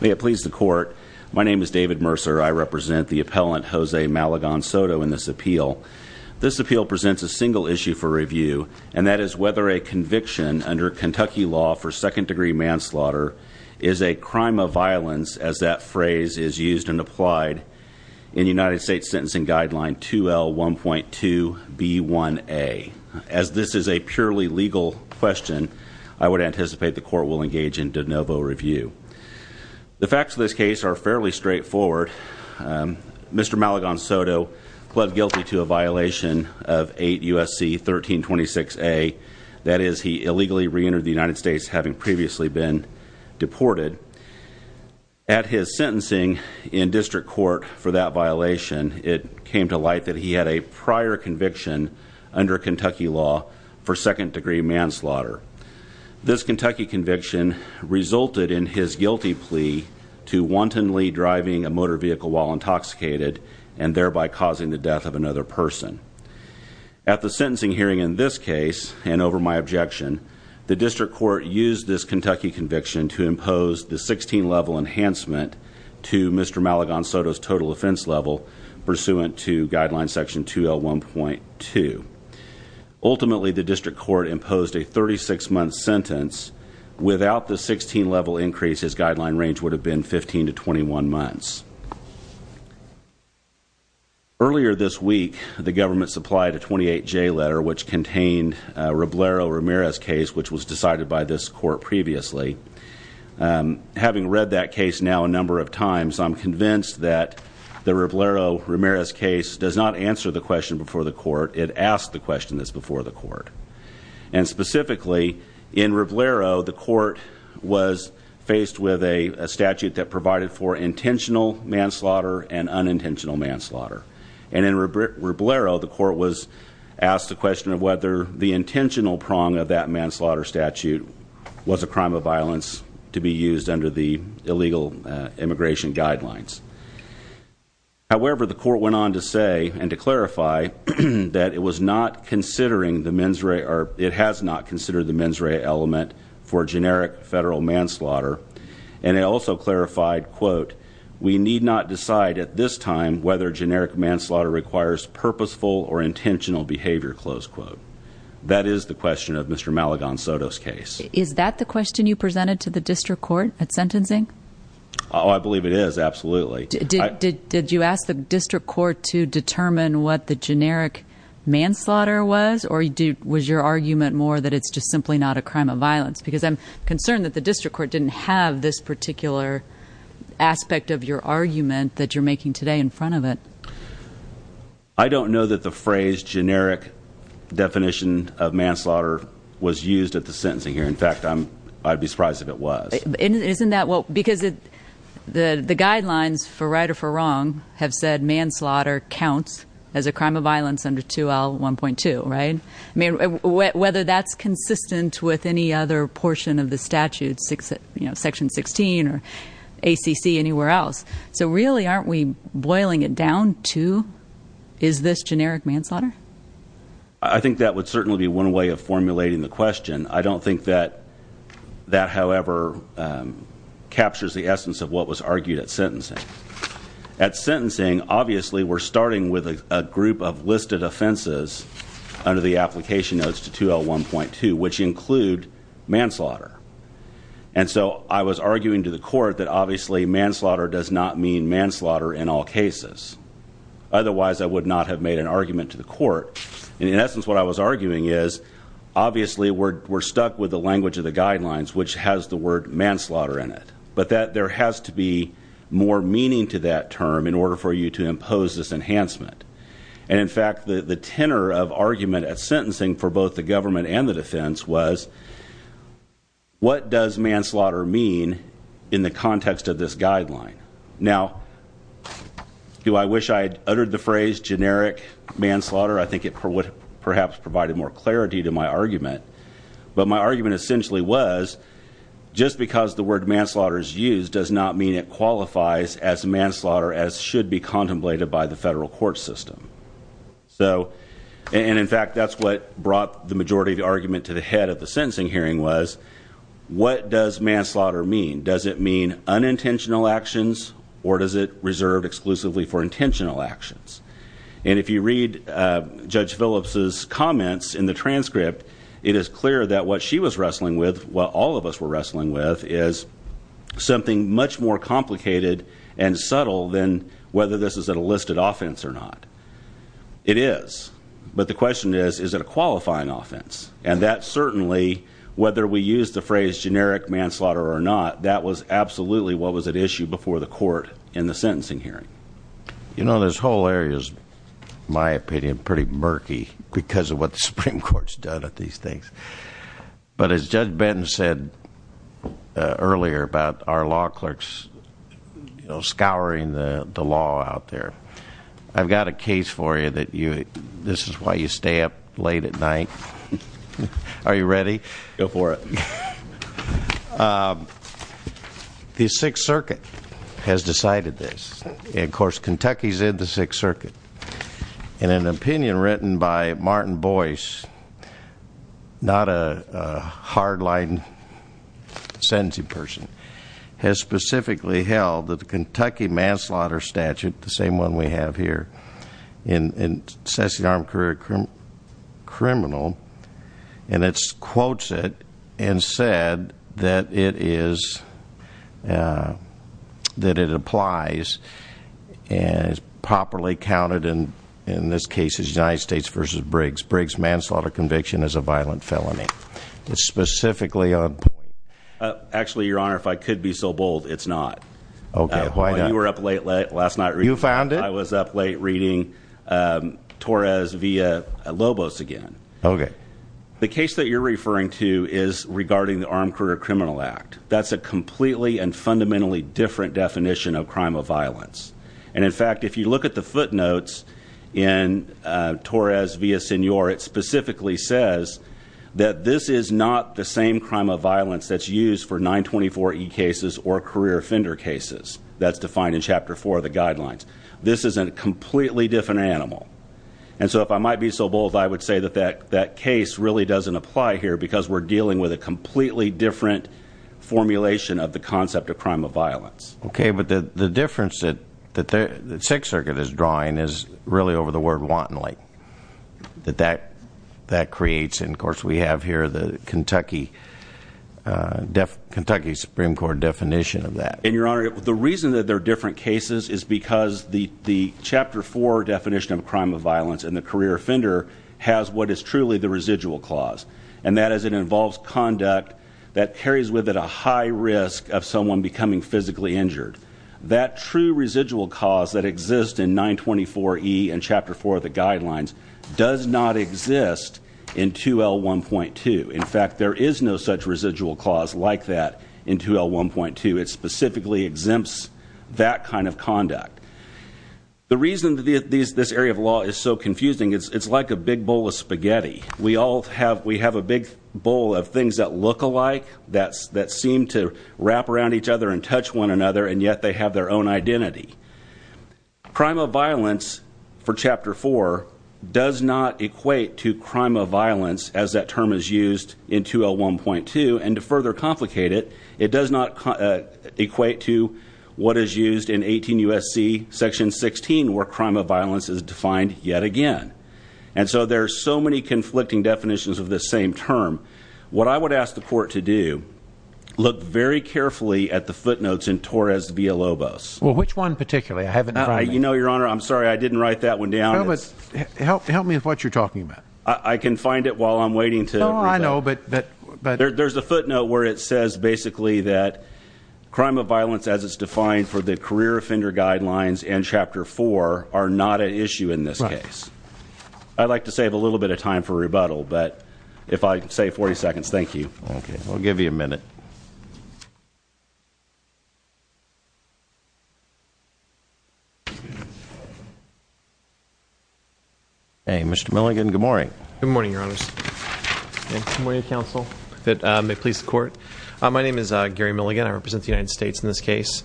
May it please the court, my name is David Mercer. I represent the appellant Jose Malagon-Soto in this appeal. This appeal presents a single issue for review, and that is whether a conviction under Kentucky law for second degree manslaughter is a crime of violence as that phrase is used and applied in United States Sentencing Guideline 2L1.2B1A. As this is a purely legal question, I would anticipate the court will engage in de novo review. The facts of this case are fairly straightforward. Mr. Malagon-Soto pled guilty to a violation of 8 U.S.C. 1326A, that is he illegally re-entered the United States having previously been deported. At his sentencing in district court for that violation, it came to light that he had a prior conviction under Kentucky law for second degree manslaughter. This Kentucky conviction resulted in his guilty plea to wantonly driving a motor vehicle while intoxicated. And thereby causing the death of another person. At the sentencing hearing in this case, and over my objection, the district court used this Kentucky conviction to impose the 16 level enhancement to Mr. Malagon-Soto's total offense level pursuant to guideline section 2L1.2. Ultimately, the district court imposed a 36 month sentence. Without the 16 level increase, his guideline range would have been 15 to 21 months. Earlier this week, the government supplied a 28J letter which contained Roblero-Ramirez case which was decided by this court previously. Having read that case now a number of times, I'm convinced that the Roblero-Ramirez case does not answer the question before the court. It asks the question that's before the court. And specifically, in Roblero, the court was faced with a statute that provided for intentional manslaughter and unintentional manslaughter. And in Roblero, the court was asked the question of whether the intentional prong of that manslaughter statute was a crime of violence to be used under the illegal immigration guidelines. However, the court went on to say and to clarify that it was not considering the mens rea, or it has not considered the mens rea element for generic federal manslaughter. And it also clarified, quote, we need not decide at this time whether generic manslaughter requires purposeful or intentional behavior, close quote. That is the question of Mr. Malagon Soto's case. Is that the question you presented to the district court at sentencing? I believe it is, absolutely. Did you ask the district court to determine what the generic manslaughter was? Or was your argument more that it's just simply not a crime of violence? Because I'm concerned that the district court didn't have this particular aspect of your argument that you're making today in front of it. I don't know that the phrase generic definition of manslaughter was used at the sentencing here. In fact, I'd be surprised if it was. Isn't that, well, because the guidelines for right or for wrong have said manslaughter counts as a crime of violence under 2L1.2, right? I mean, whether that's consistent with any other portion of the statute, section 16 or ACC, anywhere else. So really, aren't we boiling it down to, is this generic manslaughter? I think that would certainly be one way of formulating the question. I don't think that that, however, captures the essence of what was argued at sentencing. At sentencing, obviously, we're starting with a group of listed offenses under the application notes to 2L1.2, which include manslaughter. And so, I was arguing to the court that, obviously, manslaughter does not mean manslaughter in all cases. Otherwise, I would not have made an argument to the court. And in essence, what I was arguing is, obviously, we're stuck with the language of the guidelines, which has the word manslaughter in it. But there has to be more meaning to that term in order for you to impose this enhancement. And in fact, the tenor of argument at sentencing for both the government and the defense was, what does manslaughter mean in the context of this guideline? Now, do I wish I had uttered the phrase generic manslaughter? I think it perhaps provided more clarity to my argument. But my argument essentially was, just because the word manslaughter is used does not mean it qualifies as manslaughter, as should be contemplated by the federal court system. And in fact, that's what brought the majority of the argument to the head of the sentencing hearing was, what does manslaughter mean? Does it mean unintentional actions, or does it reserve exclusively for intentional actions? And if you read Judge Phillips's comments in the transcript, it is clear that what she was wrestling with, what all of us were wrestling with, is something much more complicated and subtle than whether this is an enlisted offense or not. It is, but the question is, is it a qualifying offense? And that certainly, whether we use the phrase generic manslaughter or not, that was absolutely what was at issue before the court in the sentencing hearing. You know, this whole area is, in my opinion, pretty murky because of what the Supreme Court's done at these things. But as Judge Benton said earlier about our law clerks scouring the law out there. I've got a case for you that this is why you stay up late at night. Are you ready? Go for it. The Sixth Circuit has decided this, and of course, Kentucky's in the Sixth Circuit. In an opinion written by Martin Boyce, not a hardline sentencing person. Has specifically held that the Kentucky manslaughter statute, the same one we have here, in Session Armed Career Criminal. And it quotes it and said that it is, that it applies and is properly counted in this case as United States versus Briggs. Briggs manslaughter conviction is a violent felony. It's specifically on point. Actually, your honor, if I could be so bold, it's not. Okay, why not? You were up late last night reading- You found it? I was up late reading Torres via Lobos again. Okay. The case that you're referring to is regarding the Armed Career Criminal Act. That's a completely and fundamentally different definition of crime of violence. And in fact, if you look at the footnotes in Torres via Senor, it specifically says that this is not the same crime of violence that's used for 924E cases or career offender cases that's defined in chapter four of the guidelines. This is a completely different animal. And so if I might be so bold, I would say that that case really doesn't apply here, because we're dealing with a completely different formulation of the concept of crime of violence. Okay, but the difference that the Sixth Circuit is drawing is really over the word wantonly. That that creates, and of course we have here the Kentucky Supreme Court definition of that. And your honor, the reason that they're different cases is because the chapter four definition of crime of violence and the career offender has what is truly the residual clause. And that is it involves conduct that carries with it a high risk of someone becoming physically injured. That true residual cause that exists in 924E and chapter four of the guidelines does not exist in 2L1.2. In fact, there is no such residual clause like that in 2L1.2. It specifically exempts that kind of conduct. The reason that this area of law is so confusing, it's like a big bowl of spaghetti. We all have a big bowl of things that look alike, that seem to wrap around each other and touch one another, and yet they have their own identity. Crime of violence for chapter four does not equate to crime of violence as that term is used in 2L1.2. And to further complicate it, it does not equate to what is used in 18 USC section 16 where crime of violence is defined yet again. And so there's so many conflicting definitions of the same term. What I would ask the court to do, look very carefully at the footnotes in Torres Villalobos. Well, which one particularly? I haven't- You know, your honor, I'm sorry, I didn't write that one down. Help me with what you're talking about. I can find it while I'm waiting to- No, I know, but- There's a footnote where it says basically that crime of violence as it's defined for is that career offender guidelines and chapter four are not an issue in this case. I'd like to save a little bit of time for rebuttal, but if I say 40 seconds, thank you. Okay, we'll give you a minute. Hey, Mr. Milligan, good morning. Good morning, your honors. Good morning, counsel. May it please the court. My name is Gary Milligan. I represent the United States in this case.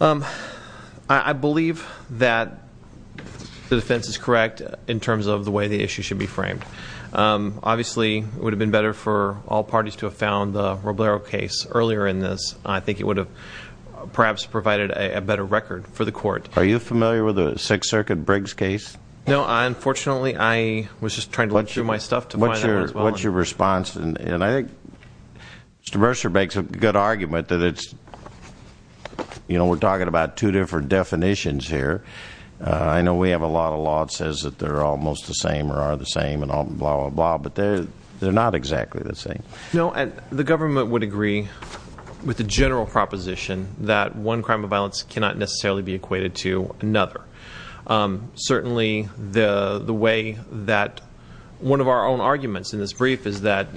I believe that the defense is correct in terms of the way the issue should be framed. Obviously, it would have been better for all parties to have found the Roblero case earlier in this. I think it would have perhaps provided a better record for the court. Are you familiar with the Sixth Circuit Briggs case? No, unfortunately, I was just trying to look through my stuff to find out as well. And I think Mr. Mercer makes a good argument that we're talking about two different definitions here. I know we have a lot of law that says that they're almost the same or are the same and blah, blah, blah, but they're not exactly the same. No, and the government would agree with the general proposition that one crime of violence cannot necessarily be equated to another. Certainly, the way that one of our own arguments in this brief is that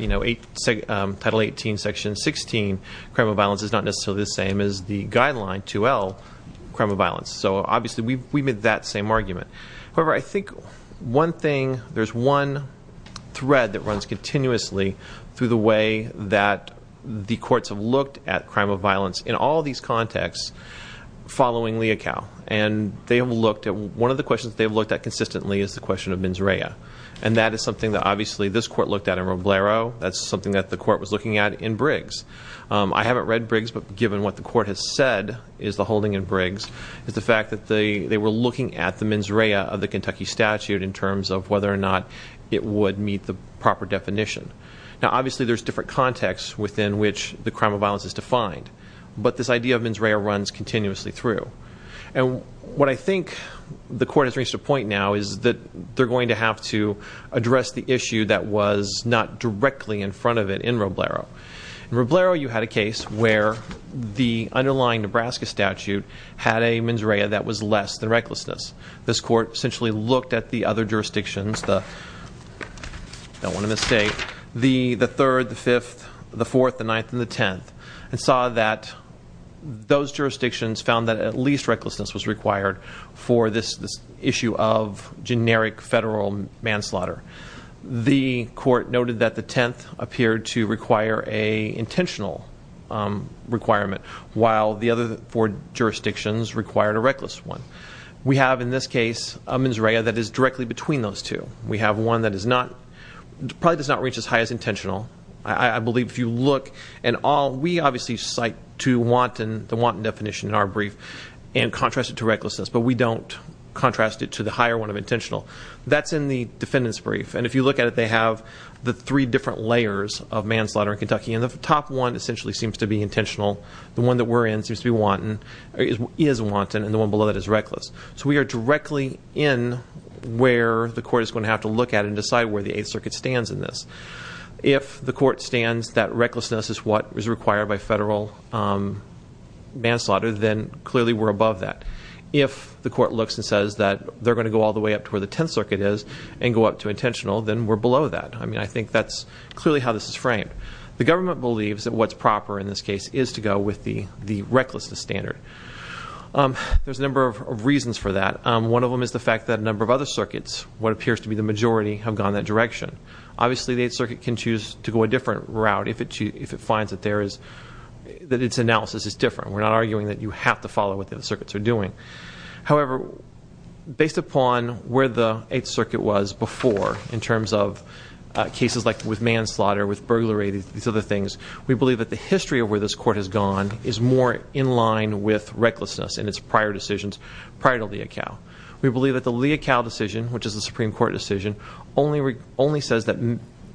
Title 18, Section 16, crime of violence is not necessarily the same as the guideline 2L, crime of violence. So obviously, we made that same argument. However, I think one thing, there's one thread that runs continuously through the way that the courts have looked at crime of violence in all these contexts following Leocal. And one of the questions they've looked at consistently is the question of mens rea. And that is something that obviously this court looked at in Roblero. That's something that the court was looking at in Briggs. I haven't read Briggs, but given what the court has said is the holding in Briggs, is the fact that they were looking at the mens rea of the Kentucky statute in terms of whether or not it would meet the proper definition. Now obviously, there's different contexts within which the crime of violence is defined. But this idea of mens rea runs continuously through. And what I think the court has reached a point now is that they're going to have to address the issue that was not directly in front of it in Roblero. In Roblero, you had a case where the underlying Nebraska statute had a mens rea that was less than recklessness. This court essentially looked at the other jurisdictions, don't want to mistake, the third, the fifth, the fourth, the ninth, and the tenth. And saw that those jurisdictions found that at least recklessness was required for this issue of generic federal manslaughter. The court noted that the tenth appeared to require a intentional requirement, while the other four jurisdictions required a reckless one. We have, in this case, a mens rea that is directly between those two. We have one that probably does not reach as high as intentional. I believe if you look, and we obviously cite to wanton definition in our brief and contrast it to recklessness, but we don't contrast it to the higher one of intentional. That's in the defendant's brief. And if you look at it, they have the three different layers of manslaughter in Kentucky. And the top one essentially seems to be intentional. The one that we're in seems to be wanton, is wanton, and the one below that is reckless. So we are directly in where the court is going to have to look at and decide where the Eighth Circuit stands in this. If the court stands that recklessness is what is required by federal manslaughter, then clearly we're above that. If the court looks and says that they're going to go all the way up to where the Tenth Circuit is and go up to intentional, then we're below that. I mean, I think that's clearly how this is framed. The government believes that what's proper in this case is to go with the recklessness standard. There's a number of reasons for that. One of them is the fact that a number of other circuits, what appears to be the majority, have gone that direction. Obviously, the Eighth Circuit can choose to go a different route if it finds that its analysis is different. We're not arguing that you have to follow what the circuits are doing. However, based upon where the Eighth Circuit was before, in terms of cases like with manslaughter, with burglary, these other things, we believe that the history of where this court has gone is more in line with recklessness in its prior decisions, prior to Leocal. We believe that the Leocal decision, which is a Supreme Court decision, only says that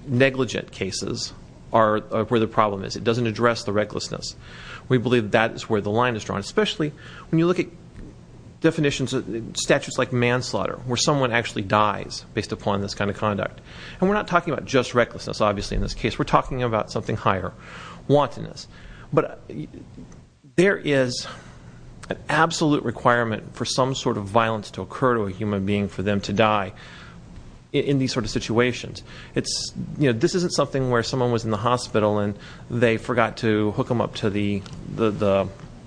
negligent cases are where the problem is. It doesn't address the recklessness. We believe that is where the line is drawn, especially when you look at definitions, statutes like manslaughter, where someone actually dies based upon this kind of conduct. And we're not talking about just recklessness, obviously, in this case. We're talking about something higher, wantonness. But there is an absolute requirement for some sort of violence to occur to a human being for them to die in these sort of situations. This isn't something where someone was in the hospital and they forgot to hook them up to the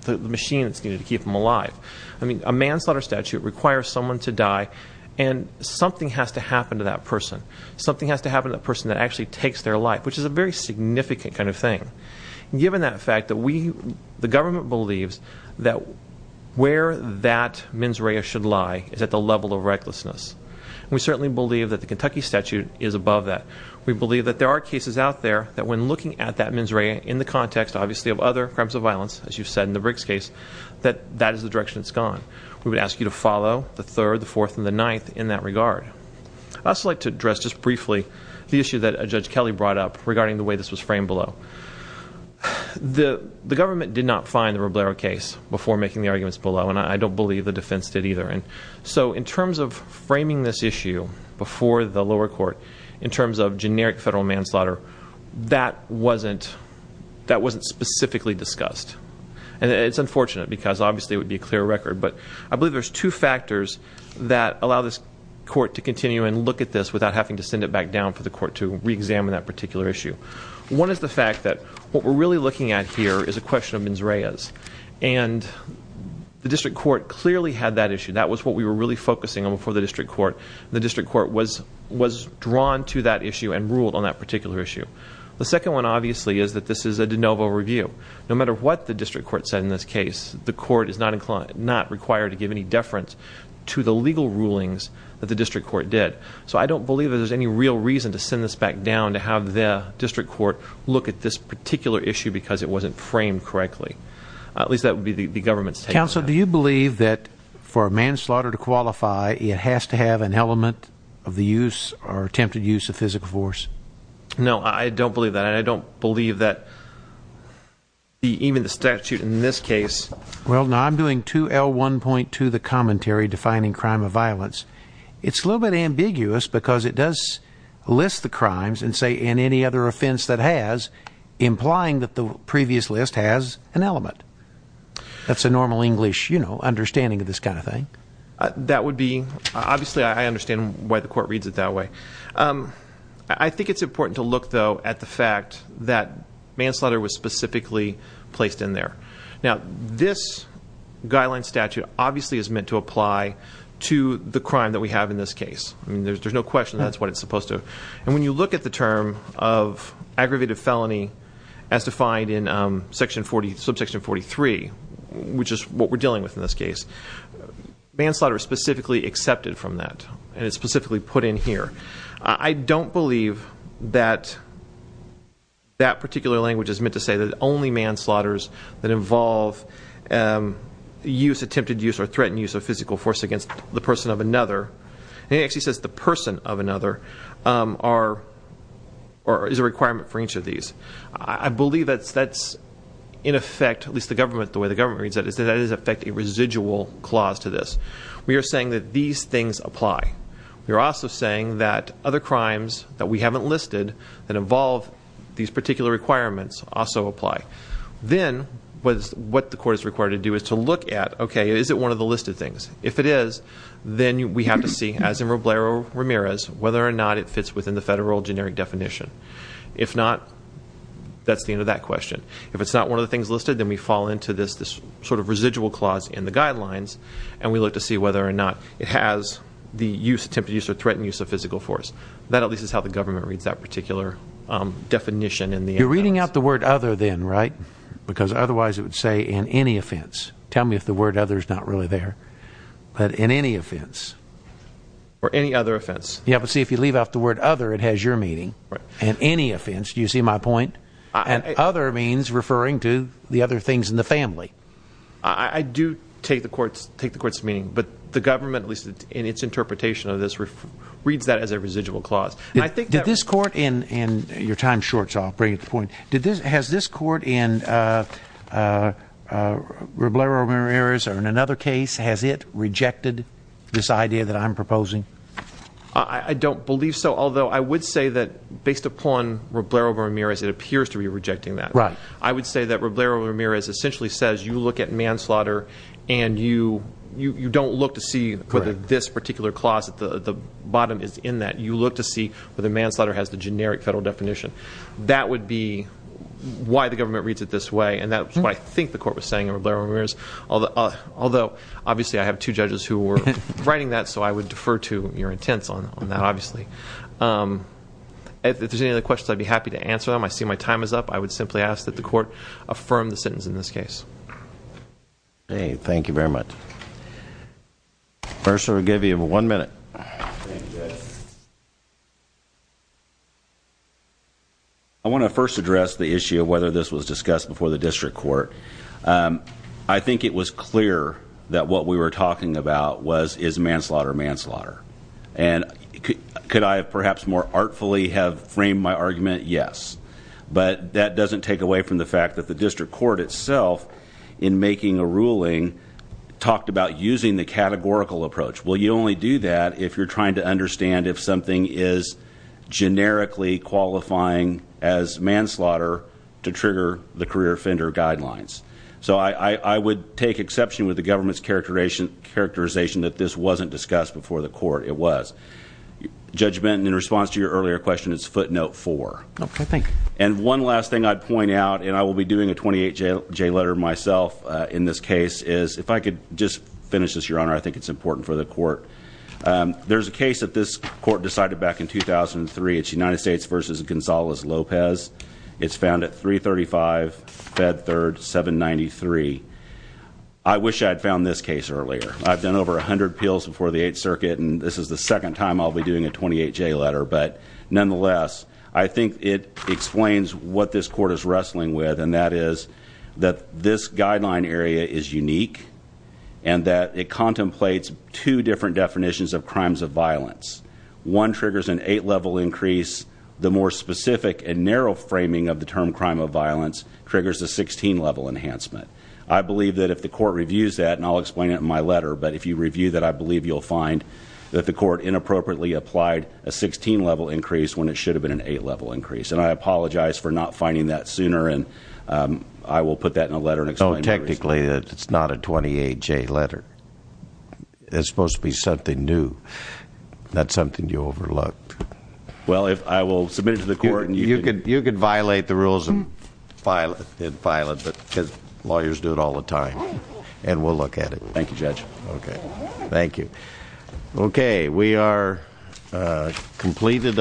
machine that's needed to keep them alive. A manslaughter statute requires someone to die and something has to happen to that person. Something has to happen to that person that actually takes their life, which is a very significant kind of thing. Given that fact, the government believes that where that mens rea should lie is at the level of recklessness. We certainly believe that the Kentucky statute is above that. We believe that there are cases out there that when looking at that mens rea in the context, obviously, of other crimes of violence, as you've said in the Briggs case, that that is the direction it's gone. We would ask you to follow the third, the fourth, and the ninth in that regard. I'd also like to address just briefly the issue that Judge Kelly brought up regarding the way this was framed below. The government did not find the Roblero case before making the arguments below, and I don't believe the defense did either. So in terms of framing this issue before the lower court, in terms of generic federal manslaughter, that wasn't specifically discussed. And it's unfortunate, because obviously it would be a clear record. But I believe there's two factors that allow this court to continue and look at this without having to send it back down for the court to reexamine that particular issue. One is the fact that what we're really looking at here is a question of mens reas. And the district court clearly had that issue. That was what we were really focusing on before the district court. The district court was drawn to that issue and ruled on that particular issue. The second one, obviously, is that this is a de novo review. No matter what the district court said in this case, the court is not required to give any deference to the legal rulings that the district court did. So I don't believe there's any real reason to send this back down to have the district court look at this particular issue because it wasn't framed correctly. At least that would be the government's take on that. Council, do you believe that for a manslaughter to qualify, it has to have an element of the use or attempted use of physical force? No, I don't believe that. And I don't believe that even the statute in this case. Well, no, I'm doing 2L1.2, the commentary defining crime of violence. It's a little bit ambiguous because it does list the crimes and say, and any other offense that has, implying that the previous list has an element. That's a normal English understanding of this kind of thing. That would be, obviously, I understand why the court reads it that way. I think it's important to look, though, at the fact that manslaughter was specifically placed in there. Now, this guideline statute obviously is meant to apply to the crime that we have in this case. I mean, there's no question that's what it's supposed to. And when you look at the term of aggravated felony as defined in section 40, subsection 43, which is what we're dealing with in this case. Manslaughter is specifically accepted from that, and it's specifically put in here. I don't believe that that particular language is meant to say that only manslaughter's that involve attempted use or threatened use of physical force against the person of another. Or is a requirement for each of these. I believe that's in effect, at least the way the government reads it, is that it is in effect a residual clause to this. We are saying that these things apply. We are also saying that other crimes that we haven't listed that involve these particular requirements also apply. Then, what the court is required to do is to look at, okay, is it one of the listed things? If it is, then we have to see, as in Roblero-Ramirez, whether or not it fits within the federal generic definition. If not, that's the end of that question. If it's not one of the things listed, then we fall into this sort of residual clause in the guidelines. And we look to see whether or not it has the use, attempted use, or threatened use of physical force. That at least is how the government reads that particular definition in the- You're reading out the word other then, right? Because otherwise it would say, in any offense. Tell me if the word other is not really there. But in any offense. Or any other offense. Yeah, but see, if you leave out the word other, it has your meaning. Right. In any offense, do you see my point? And other means referring to the other things in the family. I do take the court's meaning, but the government, at least in its interpretation of this, reads that as a residual clause. And I think that- Did this court, and your time shorts off, bring it to the point. Has this court in Roblero-Ramirez or in another case, has it rejected this idea that I'm proposing? I don't believe so, although I would say that based upon Roblero-Ramirez, it appears to be rejecting that. Right. I would say that Roblero-Ramirez essentially says, you look at manslaughter and you don't look to see whether this particular clause at the bottom is in that. You look to see whether manslaughter has the generic federal definition. That would be why the government reads it this way, and that's what I think the court was saying in Roblero-Ramirez. Although, obviously, I have two judges who were writing that, so I would defer to your intents on that, obviously. If there's any other questions, I'd be happy to answer them. I see my time is up. I would simply ask that the court affirm the sentence in this case. Okay, thank you very much. First, we'll give you one minute. I want to first address the issue of whether this was discussed before the district court. I think it was clear that what we were talking about was, is manslaughter manslaughter? And could I have perhaps more artfully have framed my argument? Yes, but that doesn't take away from the fact that the district court itself in making a ruling talked about using the categorical approach. Well, you only do that if you're trying to understand if something is generically qualifying as manslaughter to trigger the career offender guidelines. So I would take exception with the government's characterization that this wasn't discussed before the court. It was. Judge Benton, in response to your earlier question, it's footnote four. Okay, thank you. And one last thing I'd point out, and I will be doing a 28-J letter myself in this case, is if I could just finish this, your honor, I think it's important for the court. There's a case that this court decided back in 2003, it's United States versus Gonzalez-Lopez. It's found at 335, Fed Third, 793. I wish I had found this case earlier. I've done over 100 appeals before the 8th Circuit, and this is the second time I'll be doing a 28-J letter. But nonetheless, I think it explains what this court is wrestling with, and that is that this guideline area is unique, and that it contemplates two different definitions of crimes of violence. One triggers an eight-level increase. The more specific and narrow framing of the term crime of violence triggers a 16-level enhancement. I believe that if the court reviews that, and I'll explain it in my letter, but if you review that, I believe you'll find that the court inappropriately applied a 16-level increase when it should have been an eight-level increase. And I apologize for not finding that sooner, and I will put that in a letter and explain it to you. Technically, it's not a 28-J letter. It's supposed to be something new, not something you overlooked. Well, I will submit it to the court and you can- You can violate the rules and file it, but lawyers do it all the time. And we'll look at it. Thank you, Judge. Okay, thank you. Okay, we are completed.